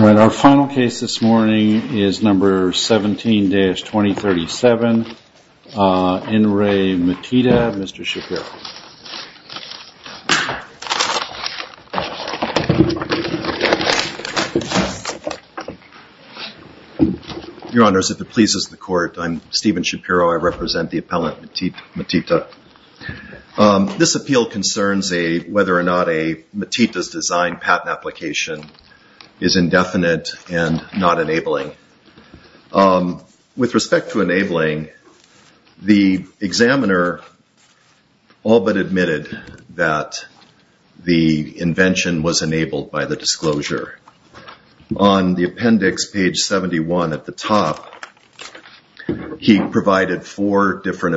All right, our final case this morning is number 17-2037, In Re Maatita, Mr. Shapiro. Your honors, if it pleases the court, I'm Stephen Shapiro. I represent the appellant Maatita. This appeal concerns whether or not a Maatita's design patent application is indefinite and not enabling. With respect to enabling, the examiner all but admitted that the invention was enabled by the disclosure. On the appendix, page 71 at the top, he provided four different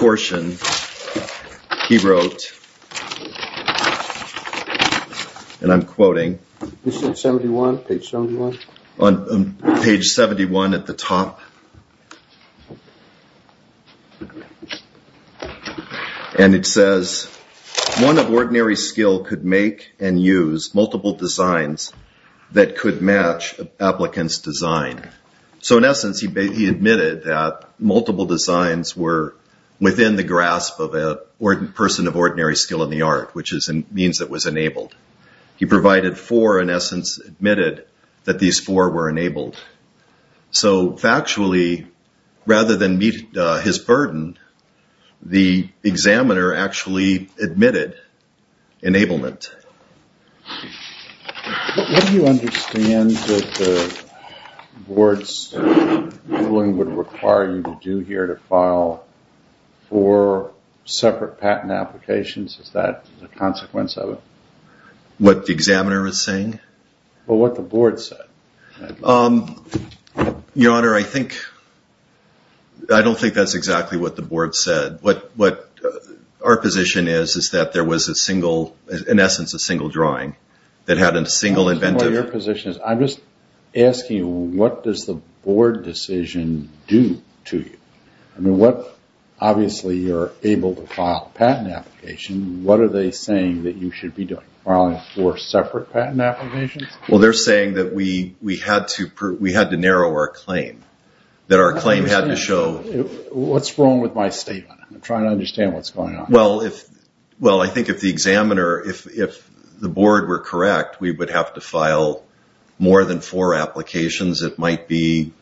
portions. He wrote, and I'm quoting, on page 71 at the top, and it says, one of ordinary skill could make and use multiple designs that could match an applicant's design. So within the grasp of a person of ordinary skill in the art, which means it was enabled. He provided four, in essence, admitted that these four were enabled. So factually, rather than meet his burden, the examiner actually admitted enablement. What do you understand that the board's ruling would require you to do here to file four separate patent applications? Is that a consequence of it? What the examiner is saying? Well, what the board said. Your honor, I don't think that's exactly what the board said. What our position is, is that there was a single, in essence, a single drawing that had a single inventive. Your position is, I'm just asking you, what does the board decision do to you? I mean, what, obviously, you're able to file a patent application. What are they saying that you should be doing? Filing four separate patent applications? Well, they're saying that we had to narrow our claim. That our claim had to What's wrong with my statement? I'm trying to understand what's going on. Well, I think if the examiner, if the board were correct, we would have to file more than four applications. It might be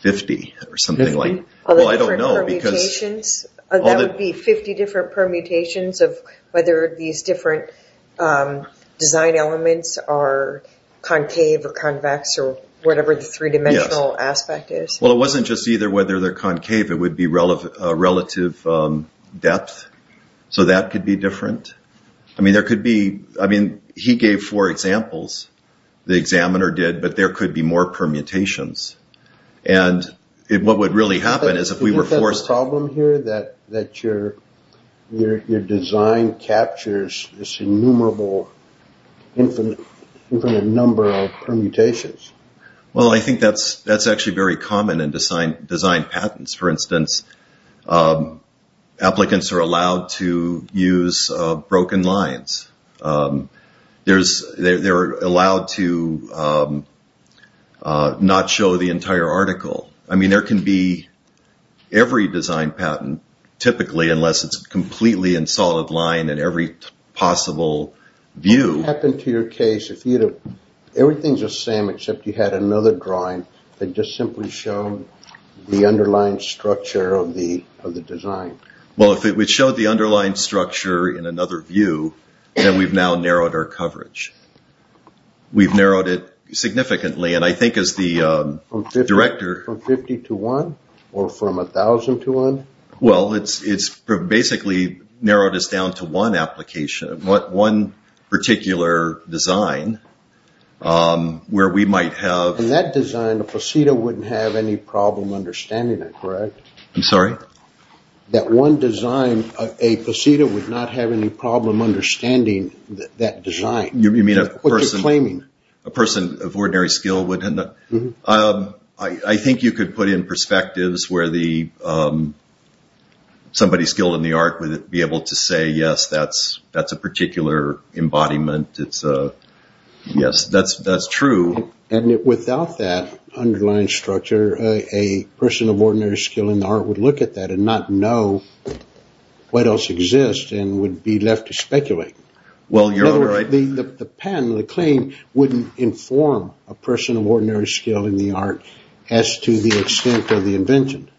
50 or something like that. 50 different permutations of whether these different design elements are concave or convex or whatever the three-dimensional aspect is. Well, it wasn't just either whether they're concave, it would be relative depth. So that could be different. I mean, there could be, I mean, he gave four examples, the examiner did, but there could be more permutations. And what would really happen is if we were forced... Is that the problem here? That your design captures this innumerable, infinite number of permutations? Well, I think that's actually very common in design patents. For instance, applicants are allowed to use broken lines. They're allowed to not show the entire article. I mean, there can be every design patent, typically, unless it's completely in solid line in every possible view. What would happen to your case if everything's same except you had another drawing that just simply showed the underlying structure of the design? Well, if it would show the underlying structure in another view, then we've now narrowed our coverage. We've narrowed it significantly. And I think as the director... From 50 to 1? Or from 1,000 to 1? Well, it's basically narrowed us down to one application, one particular design where we might have... In that design, a possedo wouldn't have any problem understanding it, correct? I'm sorry? That one design, a possedo would not have any problem understanding that design. You mean a person... What you're claiming. A person of ordinary skill would... I think you could put in perspectives where somebody skilled in the art would be able to say, yes, that's a particular embodiment. Yes, that's true. And without that underlying structure, a person of ordinary skill in the art would look at that and not know what else exists and would be left to speculate. The patent, the claim wouldn't inform a person of ordinary skill in the art as to the extent of the invention.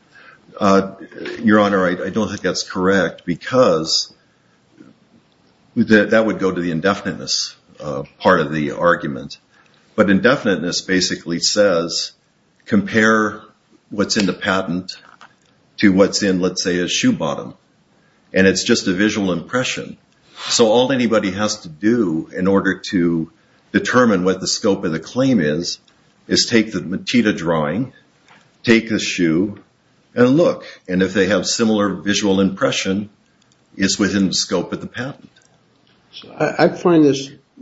Your Honor, I don't think that's correct because that would go to the indefiniteness part of the argument. But indefiniteness basically says, compare what's in the patent to what's in, let's say, a shoe bottom. And it's just a visual impression. So all anybody has to do in order to look. And if they have similar visual impression, it's within the scope of the patent. I find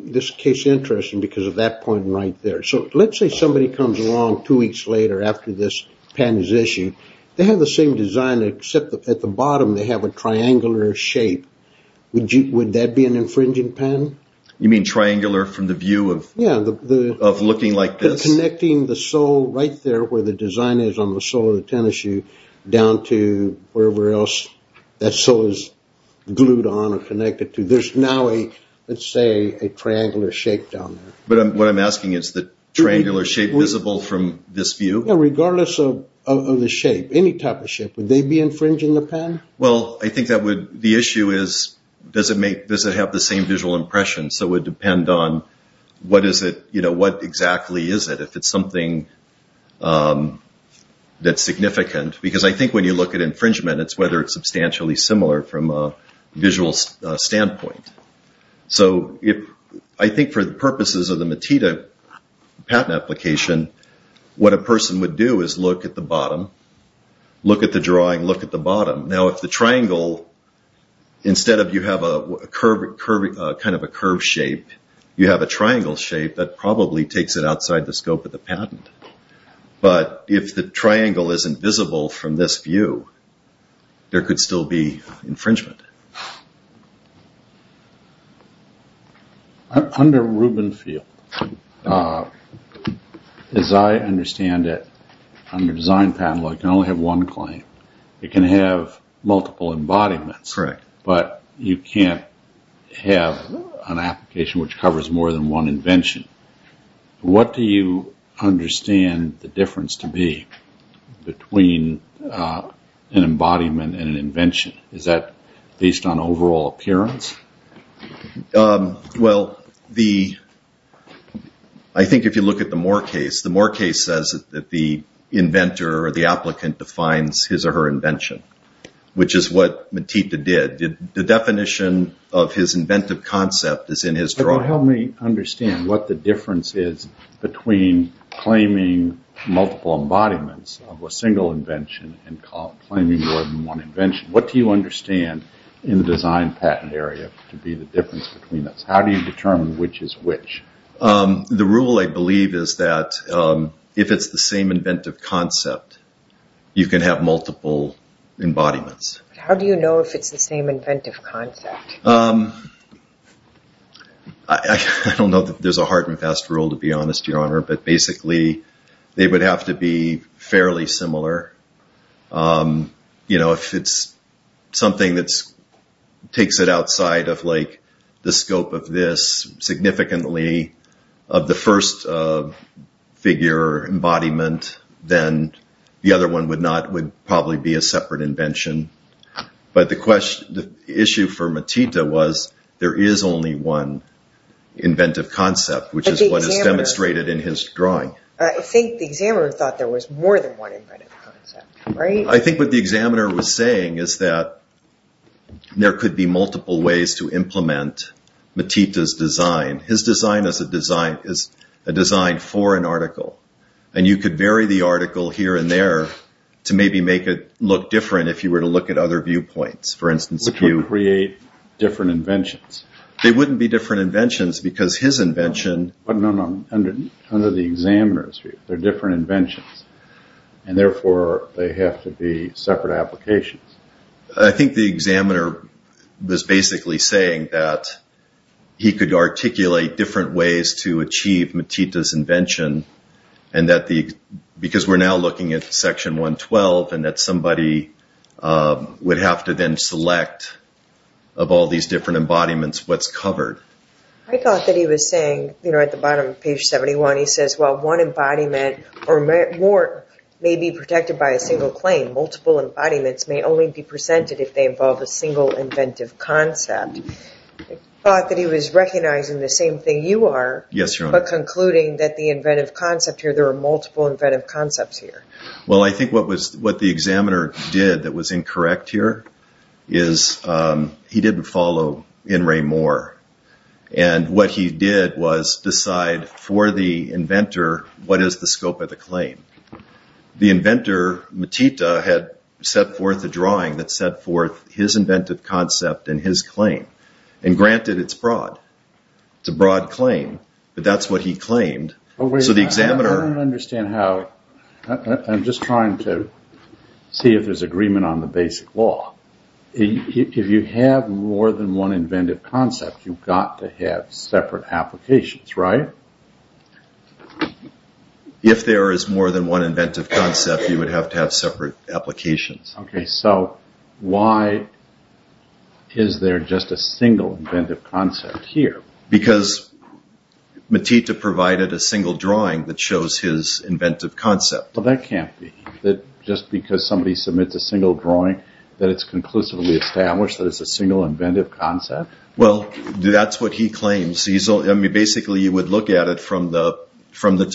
this case interesting because of that point right there. So let's say somebody comes along two weeks later after this patent is issued. They have the same design except at the bottom, they have a triangular shape. Would that be an infringing patent? You mean triangular from the view of looking like this? Connecting the sole right there where the design is on the sole of the tennis shoe down to wherever else that sole is glued on or connected to. There's now a, let's say, a triangular shape down there. But what I'm asking is the triangular shape visible from this view? Regardless of the shape, any type of shape, would they be infringing the patent? Well, I think the issue is, does it have the same visual impression? So it would depend on what exactly is it, if it's something that's significant. Because I think when you look at infringement, it's whether it's substantially similar from a visual standpoint. So I think for the purposes of the Matita patent application, what a person would do is look at the bottom, look at the drawing, look at the bottom. Now, if the triangle, instead of you have kind of a curved shape, you have a triangle shape, that probably takes it outside the scope of the patent. But if the triangle isn't visible from this view, there could still be infringement. Under Rubenfield, as I understand it, under design patent law, you can only have one claim. You can have multiple embodiments, but you can't have an application which covers more than one invention. What do you understand the difference to be between an embodiment and an invention? Is that based on overall appearance? Well, I think if you look at the Moore case, the Moore case says that the inventor or the applicant defines his or her invention, which is what Matita did. The definition of his inventive concept is in his drawing. Help me understand what the difference is between claiming multiple embodiments of a single invention and claiming more than one invention. What do you understand in the design patent area to be the difference between those? How do you determine which is which? The rule, I believe, is that if it's the same inventive concept, you can have multiple embodiments. How do you know if it's the same inventive concept? I don't know that there's a hard and fast rule, to be honest, Your Honor, but basically, they would have to be fairly similar. If it's something that takes it outside of the scope of significantly of the first figure embodiment, then the other one would probably be a separate invention. But the issue for Matita was there is only one inventive concept, which is what is demonstrated in his drawing. I think the examiner thought there was more than one inventive concept, right? I think what the examiner was saying is that there could be multiple ways to implement Matita's design. His design is a design for an article, and you could vary the article here and there to maybe make it look different if you were to look at other viewpoints. Which would create different inventions? They wouldn't be different inventions because his invention... No, no, no. Under the examiner's view, they're different inventions, and therefore they have to be separate applications. I think the examiner was basically saying that he could articulate different ways to achieve Matita's invention, because we're now looking at Section 112, and that somebody would have to then select of all these different embodiments what's covered. I thought that he was saying, at the bottom of page 71, he says, well, one embodiment or more may be protected by a single claim. Multiple embodiments may only be presented if they involve a single inventive concept. I thought that he was recognizing the same thing you are, but concluding that the inventive concept here, there are multiple inventive concepts here. Well, I think what the examiner did that was incorrect here is he didn't follow In Ray Moore. What he did was decide for the inventor, what is the scope of the claim? The inventor, Matita, had set forth a drawing that set forth his inventive concept and his claim. Granted, it's broad. It's a broad claim, but that's what he claimed. So the examiner... I don't understand how... I'm just trying to see if there's agreement on the basic law. If you have more than one inventive concept, you've got to have separate applications, right? If there is more than one inventive concept, you would have to have separate applications. Okay, so why is there just a single inventive concept here? Because Matita provided a single drawing that shows his inventive concept. Well, that can't be. Just because somebody submits a single drawing, that it's conclusively established that it's a single inventive concept. Well, that's what he claims. Basically, you would look at it from the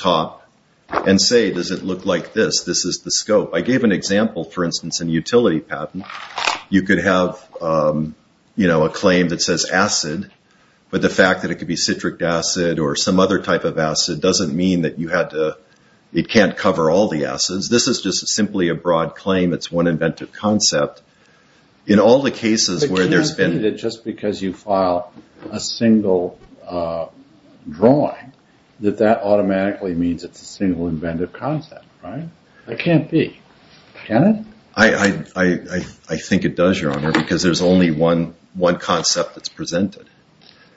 top and say, does it look like this? This is the scope. I gave an example, for instance, in utility patent. You could have a claim that says acid, but the fact that it could be citric acid or some other type of acid doesn't mean that it can't cover all the acids. This is just simply a broad claim. It's one inventive concept. In all the cases where there's been... It can't be that just because you file a single drawing, that that automatically means it's a single inventive concept, right? That can't be. Can it? I think it does, Your Honor, because there's only one concept that's presented.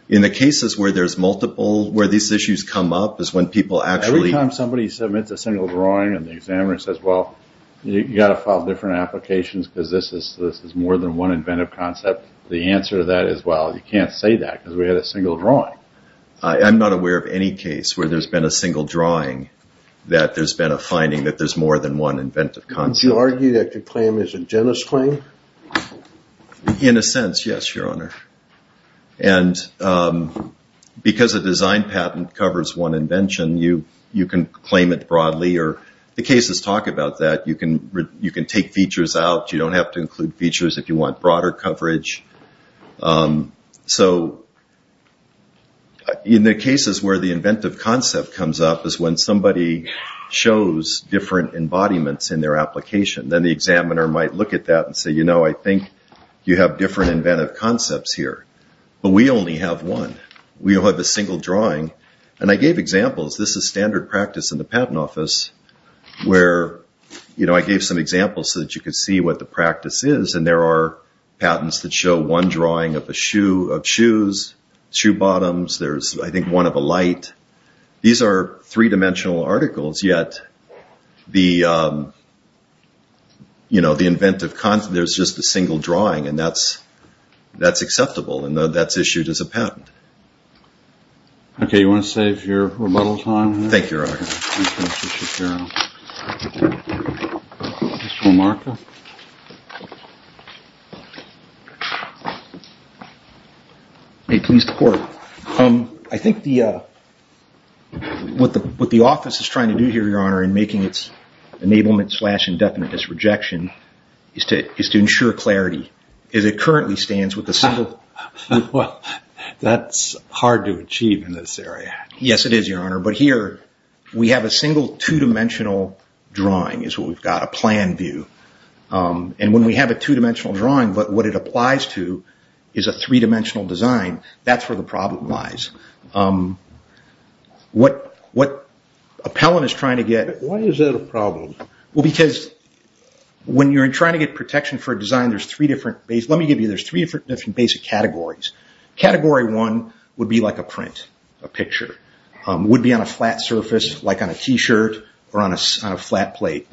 In the cases where there's multiple, where these issues come up is when people actually... Every time somebody submits a single drawing and the examiner says, well, you've got to file different applications because this is more than one inventive concept, the answer to that is, well, you can't say that because we had a single drawing. I'm not aware of any case where there's been a single drawing that there's been a finding that there's more than one inventive concept. Do you argue that your claim is a genus claim? In a sense, yes, Your Honor. Because a design patent covers one invention, you can claim it broadly. The cases talk about that. You can take features out. You don't have to include features if you want broader coverage. In the cases where the inventive concept comes up is when somebody shows different embodiments in their application. Then the examiner might look at that and say, you know, I think you have different inventive concepts here, but we only have one. We don't have a single drawing. And I gave examples. This is standard practice in the patent office, where I gave some examples so that you could see what the practice is. And there are patents that show one drawing of shoes, shoe bottoms. There's, I think, one of a light. These are three-dimensional articles, yet the inventive concept, there's just a single drawing and that's acceptable and that's issued as a patent. Okay, you want to save your rebuttal time? Thank you, Your Honor. Thank you, Mr. Shapiro. Mr. Lamarcka? May it please the Court. I think what the office is trying to do here, Your Honor, in making its enablement slash indefinite disrejection is to ensure clarity. As it currently stands with a single- Well, that's hard to achieve in this area. Yes, it is, Your Honor. But here, we have a single two-dimensional drawing is what we've got, a plan view. And when we have a two-dimensional drawing, what it applies to is a three-dimensional design. That's where the problem lies. What Appellant is trying to get- Why is that a problem? Well, because when you're trying to get protection for a design, there's three different basic categories. Category one would be like a print, a picture. It would be on a flat surface like on a t-shirt or on a flat plate.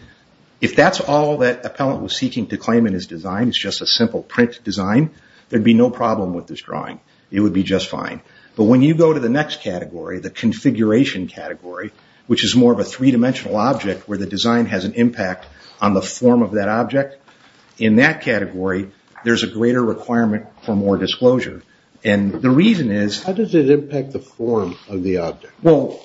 If that's all that Appellant was seeking to claim in his design, it's just a simple print design, there'd be no problem with this drawing. It would be just fine. But when you go to the next category, the configuration category, which is more of a three-dimensional object where the design has an impact on the form of that object, in that category, there's a greater requirement for more disclosure. The reason is- How does it impact the form of the object? Well,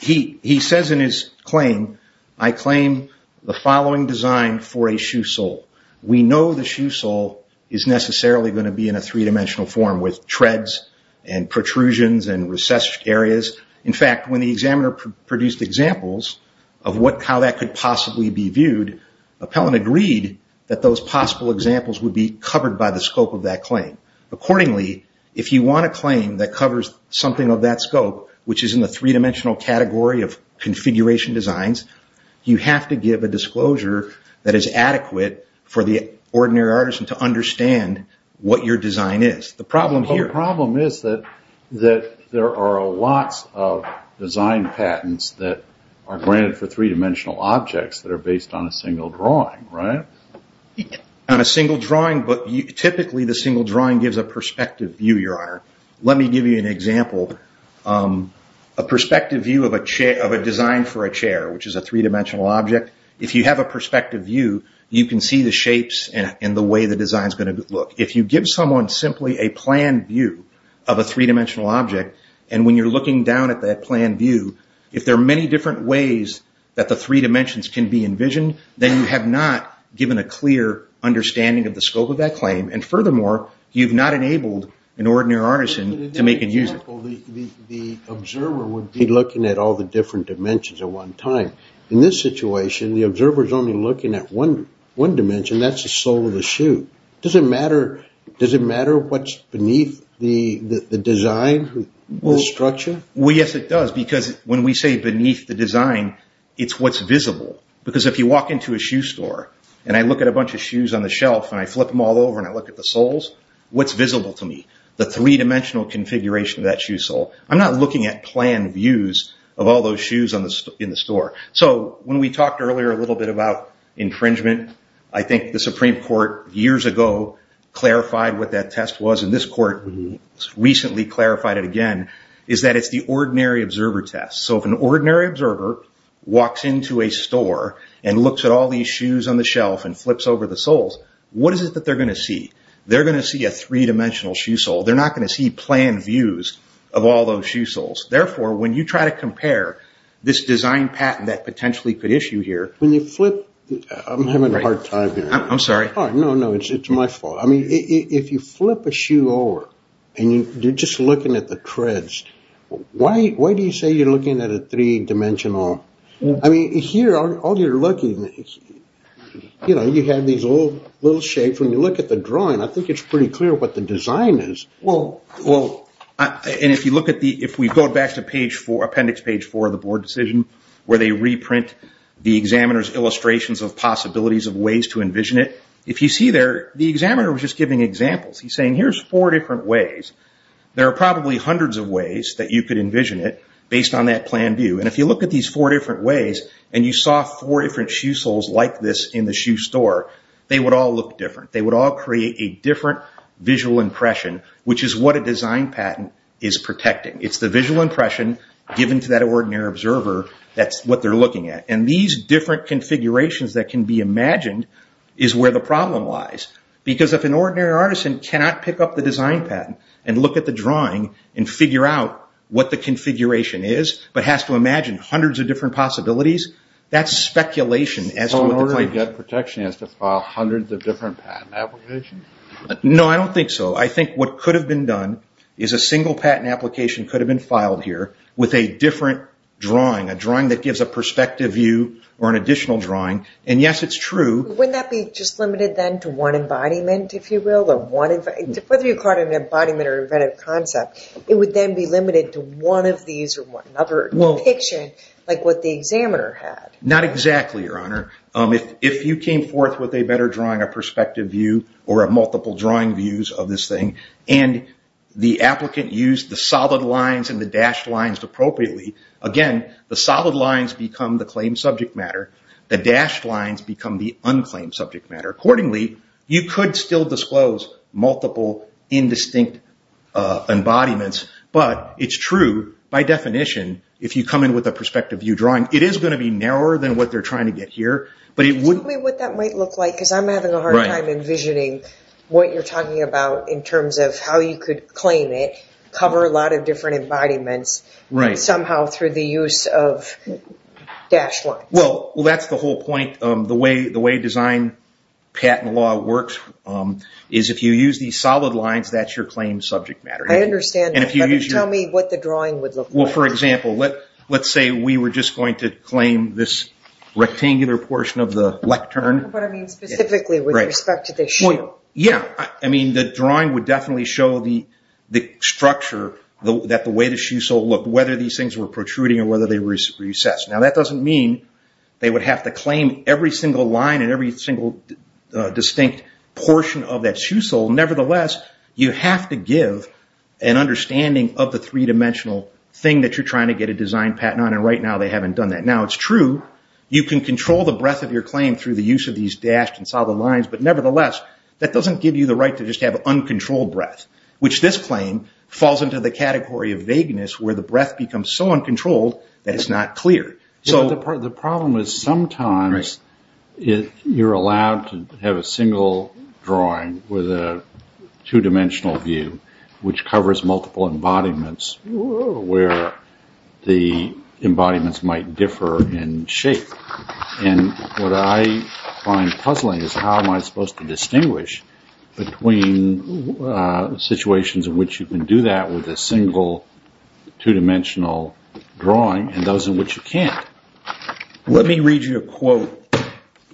he says in his claim, I claim the following design for a shoe sole. We know the shoe sole is necessarily going to be in a three-dimensional form with treads and protrusions and recessed areas. In fact, when the examiner produced examples of how that could possibly be viewed, Appellant agreed that those possible examples would be covered by the scope of that claim. Accordingly, if you want a claim that covers something of that scope, which is in the three-dimensional category of configuration designs, you have to give a disclosure that is adequate for the ordinary artisan to understand what your design is. The problem here- The problem is that there are lots of design patents that are granted for three-dimensional objects that are based on a single drawing, right? On a single drawing, but typically the single drawing gives a perspective view, Your Honor. Let me give you an example. A perspective view of a design for a chair, which is a three-dimensional object. If you have a perspective view, you can see the shapes and the way the design is going to look. If you give someone simply a plan view of a three-dimensional object, and when you're looking down at that plan view, if there are many different ways that the three dimensions can be envisioned, then you have not given a clear understanding of the scope of that claim, and furthermore, you've not enabled an ordinary artisan to make and use it. The observer would be looking at all the different dimensions at one time. In this situation, the observer is only looking at one dimension. That's the sole of the shoe. Does it matter what's beneath the design, the structure? Well, yes, it does. Because when we say beneath the design, it's what's visible. Because if you walk into a shoe store, and I look at a bunch of shoes on the shelf, and I flip them all over, and I look at the soles, what's visible to me? The three-dimensional configuration of that shoe sole. I'm not looking at plan views of all those shoes in the store. So when we talked earlier a little bit about infringement, I think the Supreme Court years ago clarified what that test was, and this court recently clarified it again, is that it's the ordinary observer test. If an ordinary observer walks into a store and looks at all these shoes on the shelf and flips over the soles, what is it that they're going to see? They're going to see a three-dimensional shoe sole. They're not going to see plan views of all those shoe soles. Therefore, when you try to compare this design patent that potentially could issue here... I'm having a hard time here. I'm sorry. No, no, it's my fault. If you flip a shoe over, and you're just looking at the treads, why do you say you're looking at a three-dimensional... I mean, here, all you're looking at, you know, you have these little shapes. When you look at the drawing, I think it's pretty clear what the design is. And if you look at the... If we go back to appendix page four of the board decision, where they reprint the examiner's illustrations of possibilities of ways to envision it, if you see there, the examiner was just giving examples. He's saying, here's four different ways. There are probably hundreds of ways that you could envision it based on that plan view. And if you look at these four different ways, and you saw four different shoe soles like this in the shoe store, they would all look different. They would all create a different visual impression, which is what a design patent is protecting. It's the visual impression given to that ordinary observer that's what they're looking at. And these different configurations that can be imagined is where the problem lies. Because if an ordinary artisan cannot pick up the design patent, look at the drawing, and figure out what the configuration is, but has to imagine hundreds of different possibilities, that's speculation as to what the claim is. So in order to get protection, you have to file hundreds of different patent applications? No, I don't think so. I think what could have been done is a single patent application could have been filed here with a different drawing. A drawing that gives a perspective view or an additional drawing. And yes, it's true. Wouldn't that be just limited then to one embodiment, if you will? Whether you caught an embodiment or inventive concept, it would then be limited to one of these or one other depiction, like what the examiner had. Not exactly, Your Honor. If you came forth with a better drawing, a perspective view, or multiple drawing views of this thing, and the applicant used the solid lines and the dashed lines appropriately, again, the solid lines become the claimed subject matter. The dashed lines become the unclaimed subject matter. Accordingly, you could still disclose multiple indistinct embodiments. But it's true, by definition, if you come in with a perspective view drawing, it is going to be narrower than what they're trying to get here. Tell me what that might look like, because I'm having a hard time envisioning what you're talking about in terms of how you could claim it, cover a lot of different embodiments somehow through the use of dashed lines. Well, that's the whole point. The way design patent law works is if you use these solid lines, that's your claimed subject matter. I understand that, but tell me what the drawing would look like. Well, for example, let's say we were just going to claim this rectangular portion of the lectern. But I mean specifically with respect to the shoe. Yeah, I mean the drawing would definitely show the structure that the way the shoe sole looked, whether these things were protruding or whether they were recessed. Now, that doesn't mean they would have to claim every single line and every single distinct portion of that shoe sole. Nevertheless, you have to give an understanding of the three-dimensional thing that you're trying to get a design patent on. And right now, they haven't done that. Now, it's true, you can control the breadth of your claim through the use of these dashed and solid lines. But nevertheless, that doesn't give you the right to just have uncontrolled breadth, which this claim falls into the category of vagueness, where the breadth becomes so uncontrolled that it's not clear. So the problem is sometimes you're allowed to have a single drawing with a two-dimensional view, which covers multiple embodiments where the embodiments might differ in shape. And what I find puzzling is how am I supposed to distinguish between situations in which you can do that with a single two-dimensional drawing and those in which you can't. Let me read you a quote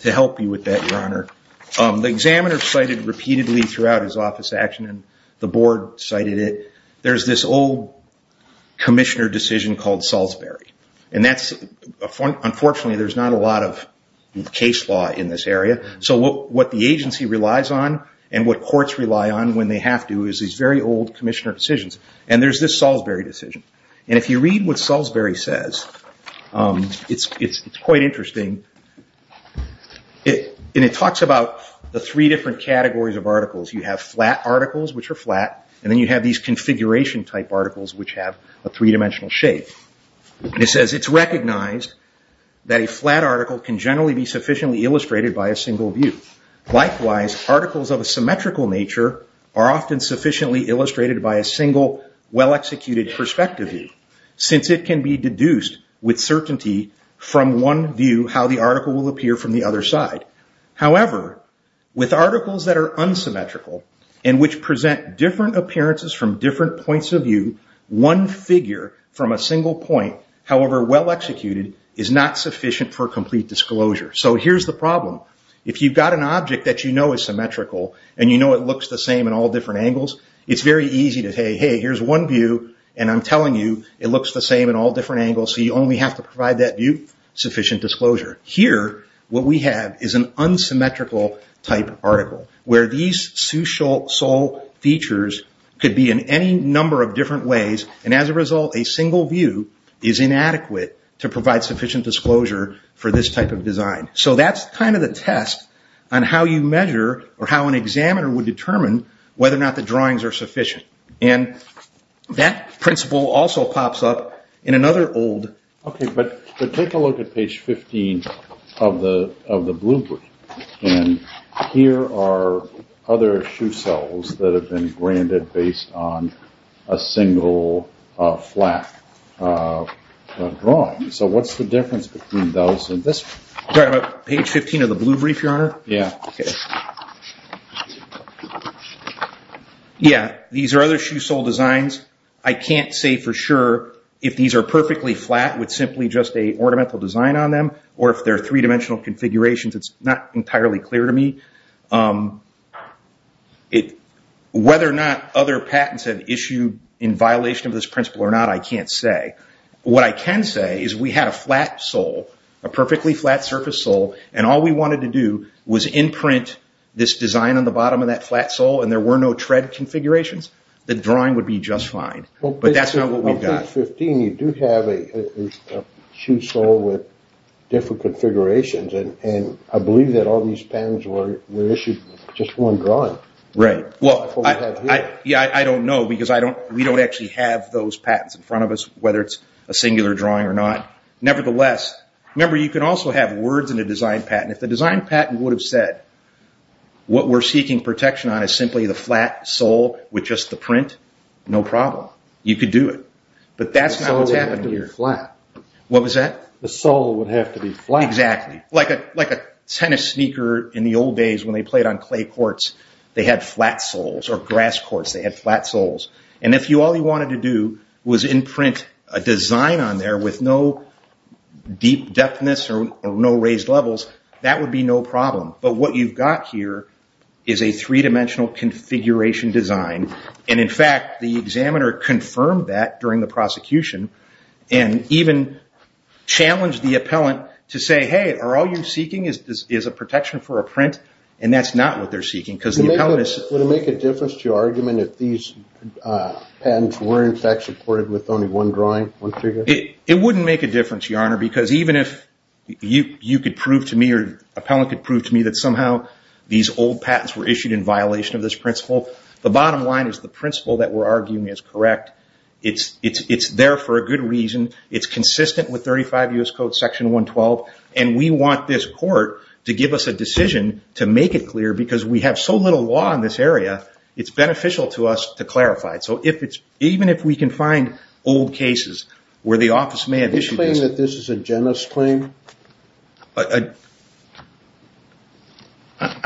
to help you with that, Your Honor. The examiner cited repeatedly throughout his office action, and the board cited it, there's this old commissioner decision called Salisbury. And unfortunately, there's not a lot of case law in this area. So what the agency relies on and what courts rely on when they have to is these very old commissioner decisions. And there's this Salisbury decision. And if you read what Salisbury says, it's quite interesting. And it talks about the three different categories of articles. You have flat articles, which are flat. And then you have these configuration-type articles, which have a three-dimensional shape. It says, it's recognized that a flat article can generally be sufficiently illustrated by a single view. Likewise, articles of a symmetrical nature are often sufficiently illustrated by a single, well-executed perspective view, since it can be deduced with certainty from one view how the article will appear from the other side. However, with articles that are unsymmetrical and which present different appearances from different points of view, one figure from a single point, however well-executed, is not sufficient for complete disclosure. So here's the problem. If you've got an object that you know is symmetrical, and you know it looks the same in all different angles, it's very easy to say, hey, here's one view, and I'm telling you it looks the same in all different angles, so you only have to provide that view sufficient disclosure. Here, what we have is an unsymmetrical-type article, where these sous-sol features could be in any number of different ways, and as a result, a single view is inadequate to provide sufficient disclosure for this type of design. So that's kind of the test on how you measure, or how an examiner would determine, whether or not the drawings are sufficient. And that principle also pops up in another old... Okay, but take a look at page 15 of the blueprint, and here are other shoe cells that have been granted based on a single flat drawing. So what's the difference between those and this one? Sorry, about page 15 of the blue brief, Your Honor? Yeah. Yeah, these are other shoe cell designs. I can't say for sure if these are perfectly flat with simply just an ornamental design on them, or if they're three-dimensional configurations. It's not entirely clear to me. Whether or not other patents have issued in violation of this principle or not, I can't say. What I can say is we had a flat sole, a perfectly flat surface sole, and all we wanted to do was imprint this design on the bottom of that flat sole, and there were no tread configurations, the drawing would be just fine. But that's not what we got. On page 15, you do have a shoe sole with different configurations, and I believe that all these patents were issued with just one drawing. Right. Well, I don't know because we don't actually have those patents in front of us, whether it's a singular drawing or not. Nevertheless, remember you can also have words in a design patent. If the design patent would have said what we're seeking protection on is simply the flat sole with just the print, no problem. You could do it. But that's not what's happening here. The sole would have to be flat. What was that? The sole would have to be flat. Exactly. Like a tennis sneaker in the old days when they played on clay courts, they had flat soles or grass courts, they had flat soles. And if all you wanted to do was imprint a design on there with no deep depthness or no raised levels, that would be no problem. But what you've got here is a three-dimensional configuration design, and in fact, the examiner confirmed that during the prosecution and even challenged the appellant to say, hey, are all you're seeking is a protection for a print? And that's not what they're seeking because the appellant is... Would it make a difference to your argument if these patents were in fact supported with only one drawing, one figure? It wouldn't make a difference, Your Honor, because even if you could prove to me or the appellant could prove to me that somehow these old patents were issued in violation of this It's there for a good reason. It's consistent with 35 U.S. Code Section 112, and we want this court to give us a decision to make it clear because we have so little law in this area, it's beneficial to us to clarify it. So even if we can find old cases where the office may have issued... Do you claim that this is a genus claim? I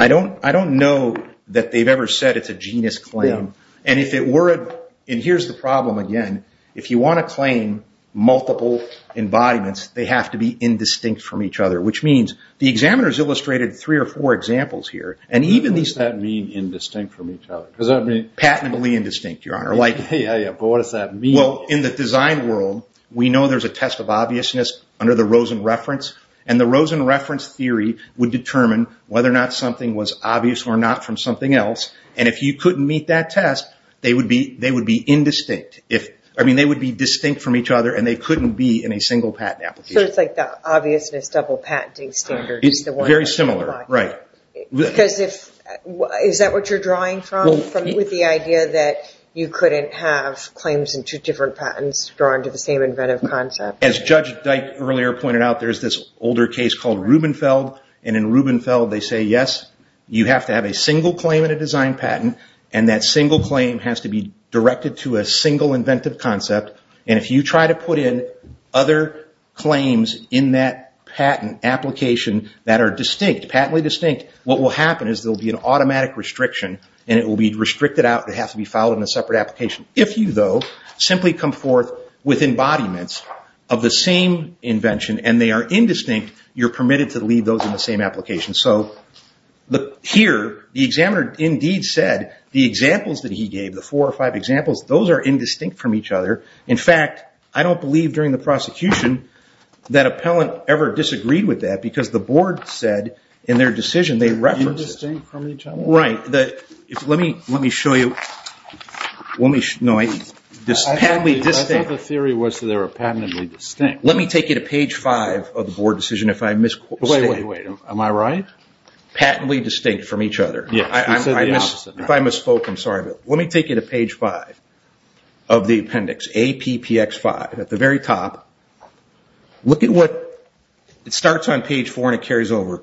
don't know that they've ever said it's a genus claim. And if it were, and here's the problem again, if you want to claim multiple embodiments, they have to be indistinct from each other, which means the examiners illustrated three or four examples here, and even these... What does that mean, indistinct from each other? Does that mean... Patently indistinct, Your Honor. Yeah, yeah, but what does that mean? Well, in the design world, we know there's a test of obviousness under the Rosen reference, and the Rosen reference theory would determine whether or not something was obvious or not from something else, and if you couldn't meet that test, they would be indistinct. They would be distinct from each other, and they couldn't be in a single patent application. So it's like the obviousness double patenting standard is the one... Very similar, right. Is that what you're drawing from, with the idea that you couldn't have claims in two different patents drawn to the same inventive concept? As Judge Dyke earlier pointed out, there's this older case called Rubenfeld, and in Rubenfeld, they say, yes, you have to have a single claim in a design patent, and that single claim has to be directed to a single inventive concept, and if you try to put in other claims in that patent application that are distinct, patently distinct, what will happen is there will be an automatic restriction, and it will be restricted out. They have to be filed in a separate application. If you, though, simply come forth with embodiments of the same invention, and they are indistinct, you're permitted to leave those in the same application. So here, the examiner indeed said the examples that he gave, the four or five examples, those are indistinct from each other. In fact, I don't believe during the prosecution that appellant ever disagreed with that, because the board said in their decision they referenced it. Indistinct from each other? Right. Let me show you. No, patently distinct. I thought the theory was that they were patently distinct. Let me take you to page five of the board decision if I'm misquoted. Wait, wait, wait. Am I right? Patently distinct from each other. If I misspoke, I'm sorry. Let me take you to page five of the appendix, APPX5, at the very top. Look at what, it starts on page four and it carries over.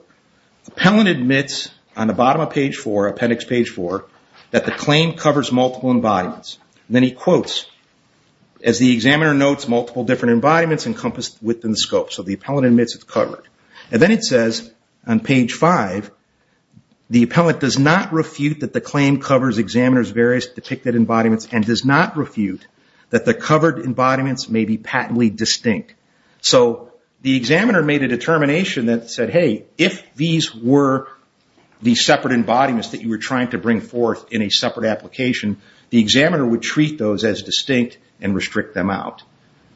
Appellant admits on the bottom of page four, appendix page four, that the claim covers multiple embodiments. Then he quotes, as the examiner notes, multiple different embodiments encompassed within the scope. So the appellant admits it's covered. Then it says on page five, the appellant does not refute that the claim covers examiner's various depicted embodiments and does not refute that the covered embodiments may be patently distinct. The examiner made a determination that said, hey, if these were the separate embodiments that you were trying to bring forth in a separate application, the examiner would treat those as distinct and restrict them out.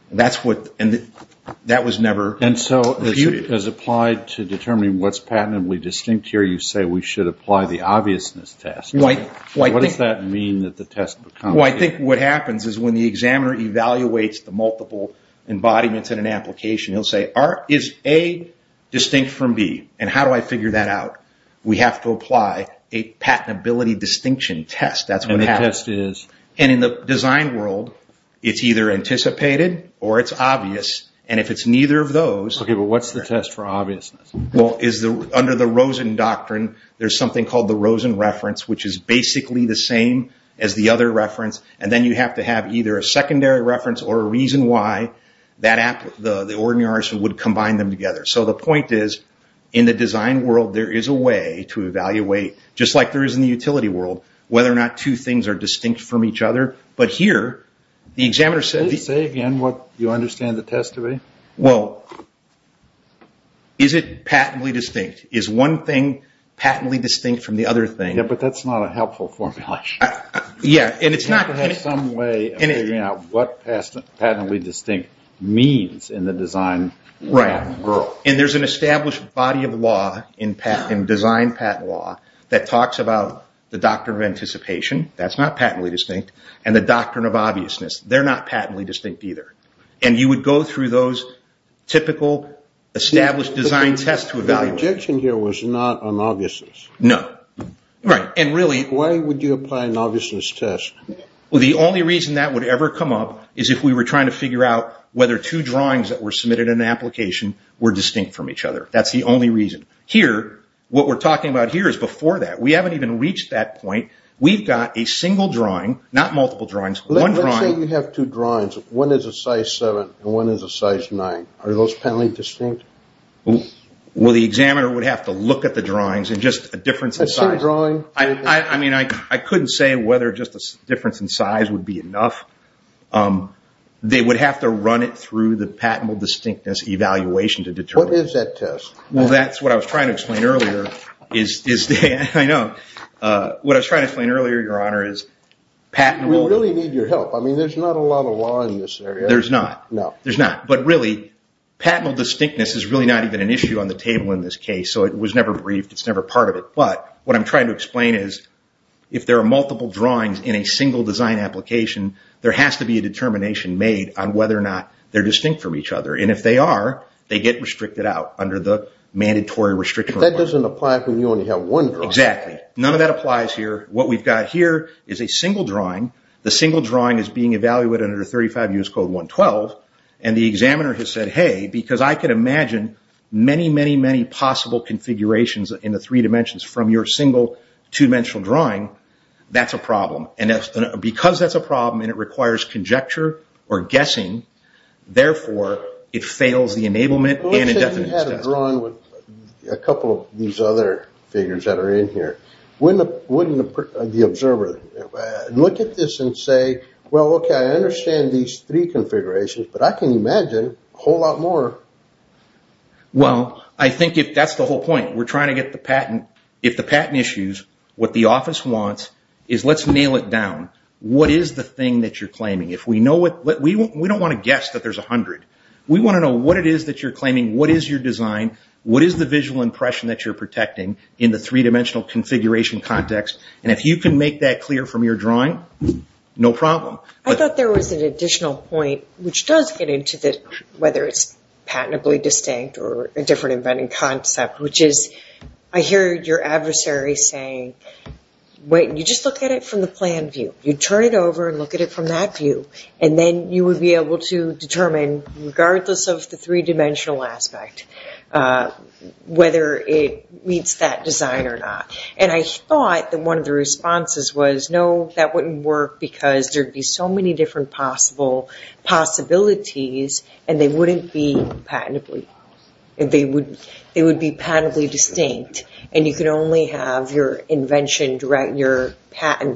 That was never refuted. Applied to determining what's patently distinct here, you say we should apply the obviousness test. What does that mean that the test becomes? I think what happens is when the examiner evaluates the multiple embodiments in an application, he'll say, is A distinct from B? How do I figure that out? We have to apply a patentability distinction test. That's what happens. And the test is? In the design world, it's either anticipated or it's obvious. And if it's neither of those. Okay, but what's the test for obviousness? Well, under the Rosen Doctrine, there's something called the Rosen Reference, which is basically the same as the other reference. And then you have to have either a secondary reference or a reason why the ordinary artist would combine them together. So the point is, in the design world, there is a way to evaluate, just like there is in the utility world, whether or not two things are distinct from each other. But here, the examiner says... Please say again what you understand the test to be. Well, is it patently distinct? Is one thing patently distinct from the other thing? Yeah, but that's not a helpful formulation. Yeah, and it's not... You have to have some way of figuring out what patently distinct means in the design world. Right. And there's an established body of law in design patent law that talks about the doctor of anticipation. That's not patently distinct. And the doctrine of obviousness. They're not patently distinct either. And you would go through those typical established design tests to evaluate... The objection here was not on obviousness. No. Right. And really... Why would you apply an obviousness test? The only reason that would ever come up is if we were trying to figure out whether two drawings that were submitted in an application were distinct from each other. That's the only reason. Here, what we're talking about here is before that. We haven't even reached that point. We've got a single drawing, not multiple drawings, one drawing... Let's say you have two drawings. One is a size seven and one is a size nine. Are those patently distinct? Well, the examiner would have to look at the drawings and just a difference in size. A single drawing? I mean, I couldn't say whether just a difference in size would be enough. They would have to run it through the patentable distinctness evaluation to determine... What is that test? Well, that's what I was trying to explain earlier. I know. What I was trying to explain earlier, Your Honor, is patentable... We really need your help. I mean, there's not a lot of law in this area. There's not. No. There's not. But really, patentable distinctness is really not even an issue on the table in this case. So it was never briefed. It's never part of it. But what I'm trying to explain is if there are multiple drawings in a single design application, there has to be a determination made on whether or not they're distinct from each other. And if they are, they get restricted out under the mandatory restriction. That doesn't apply if you only have one drawing. Exactly. None of that applies here. What we've got here is a single drawing. The single drawing is being evaluated under 35 U.S. Code 112. And the examiner has said, Hey, because I can imagine many, many, many possible configurations in the three dimensions from your single two-dimensional drawing, that's a problem. And because that's a problem and it requires conjecture or guessing, therefore, it fails the enablement and indefinite distinctness test. With a couple of these other figures that are in here, wouldn't the observer look at this and say, Well, okay, I understand these three configurations, but I can imagine a whole lot more. Well, I think that's the whole point. We're trying to get the patent. If the patent issues, what the office wants is let's nail it down. What is the thing that you're claiming? We don't want to guess that there's 100. We want to know what it is that you're claiming. What is your design? What is the visual impression that you're protecting in the three-dimensional configuration context? And if you can make that clear from your drawing, no problem. I thought there was an additional point, which does get into this, whether it's patentably distinct or a different inventing concept, which is I hear your adversary saying, Wait, you just look at it from the plan view. You turn it over and look at it from that view. And then you would be able to determine, regardless of the three-dimensional aspect, whether it meets that design or not. And I thought that one of the responses was, No, that wouldn't work because there'd be so many different possibilities, and they wouldn't be patentably distinct. And you can only have your patent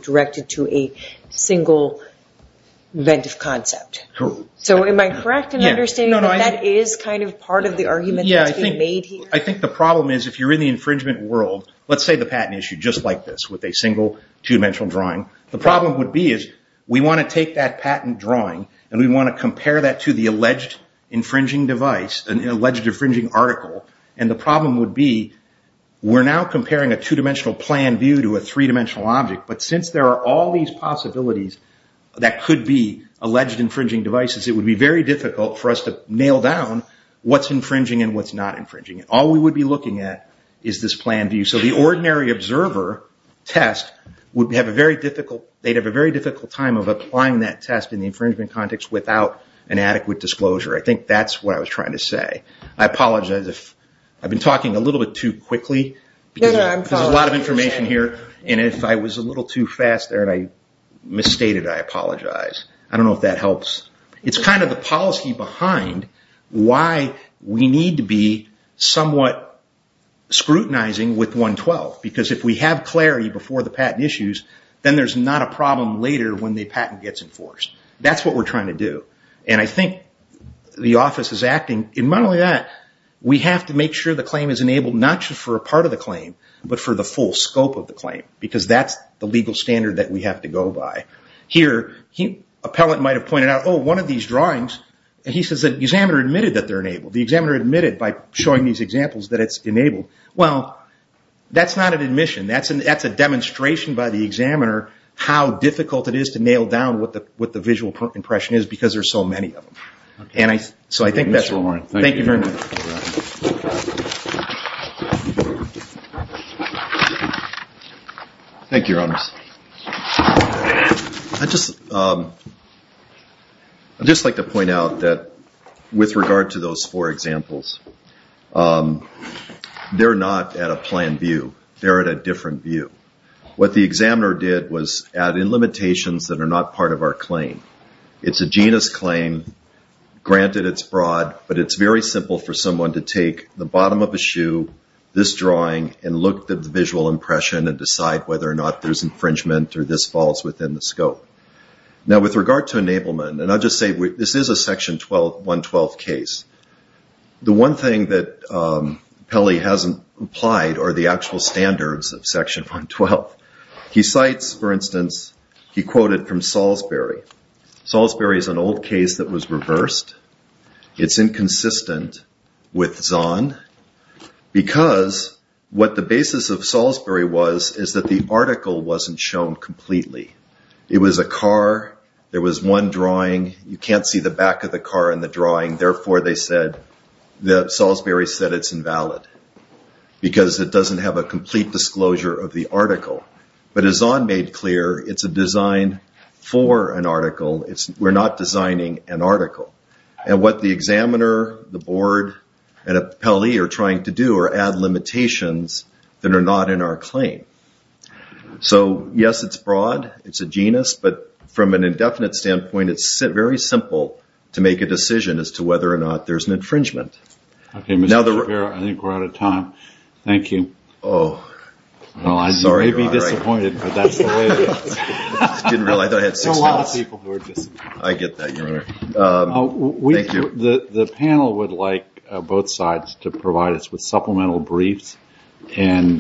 directed to a single inventive concept. So am I correct in understanding that that is part of the argument that's being made here? I think the problem is if you're in the infringement world, let's say the patent issue just like this with a single two-dimensional drawing, the problem would be is we want to take that patent drawing and we want to compare that to the alleged infringing device, an alleged infringing article. And the problem would be we're now comparing a two-dimensional plan view to a three-dimensional object. But since there are all these possibilities that could be alleged infringing devices, it would be very difficult for us to nail down what's infringing and what's not infringing. All we would be looking at is this plan view. So the ordinary observer test, they'd have a very difficult time of applying that test in the infringement context without an adequate disclosure. I think that's what I was trying to say. I apologize if I've been talking a little bit too quickly. There's a lot of information here. And if I was a little too fast there and I misstated, I apologize. I don't know if that helps. It's kind of the policy behind why we need to be somewhat scrutinizing with 112. Because if we have clarity before the patent issues, then there's not a problem later when the patent gets enforced. That's what we're trying to do. And I think the office is acting, and not only that, we have to make sure the claim is enabled, not just for a part of the claim, but for the full scope of the claim. Because that's the legal standard that we have to go by. Here, an appellant might have pointed out, oh, one of these drawings, and he says the examiner admitted that they're enabled. The examiner admitted by showing these examples that it's enabled. Well, that's not an admission. That's a demonstration by the examiner how difficult it is to nail down what the visual impression is because there's so many of them. And so I think that's it. Thank you very much. Thank you, Your Honors. I'd just like to point out that with regard to those four examples, they're not at a plan view. They're at a different view. What the examiner did was add in limitations that are not part of our claim. It's a genus claim. Granted, it's broad. But it's very simple for someone to take the bottom of a shoe, this drawing, and look at the visual impression and decide whether or not there's infringement or this falls within the scope. Now, with regard to enablement, and I'll just say this is a Section 112 case. The one thing that Pelley hasn't implied are the actual standards of Section 112. He cites, for instance, he quoted from Salisbury. Salisbury is an old case that was reversed. It's inconsistent with Zahn because what the basis of Salisbury was is that the article wasn't shown completely. It was a car. There was one drawing. You can't see the back of the car in the drawing. Therefore, they said that Salisbury said it's invalid because it doesn't have a complete disclosure of the article. But as Zahn made clear, it's a design for an article. We're not designing an article. And what the examiner, the board, and Pelley are trying to do are add limitations that are not in our claim. So, yes, it's broad. It's a genus. But from an indefinite standpoint, it's very simple to make a decision as to whether or not there's an infringement. Okay, Mr. Shapiro, I think we're out of time. Thank you. Oh, sorry. I may be disappointed, but that's the way it is. Didn't realize I had six minutes. I get that, Your Honor. The panel would like both sides to provide us with supplemental briefs on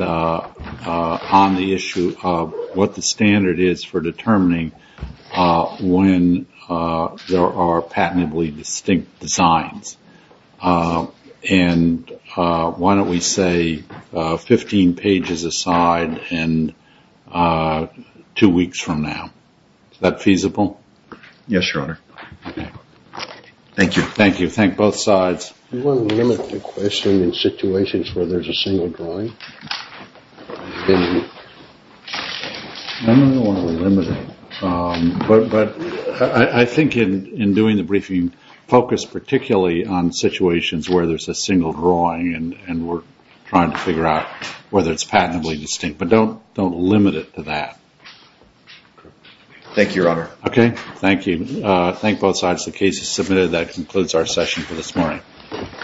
the issue of what the standard is for determining when there are patently distinct designs. And why don't we say 15 pages aside and two weeks from now? Is that feasible? Yes, Your Honor. Thank you. Thank you. Thank both sides. You want to limit the question in situations where there's a single drawing? I don't want to limit it. But I think in doing the briefing, focus particularly on situations where there's a single drawing and we're trying to figure out whether it's patently distinct. Don't limit it to that. Thank you, Your Honor. Okay, thank you. Thank both sides. The case is submitted. That concludes our session for this morning.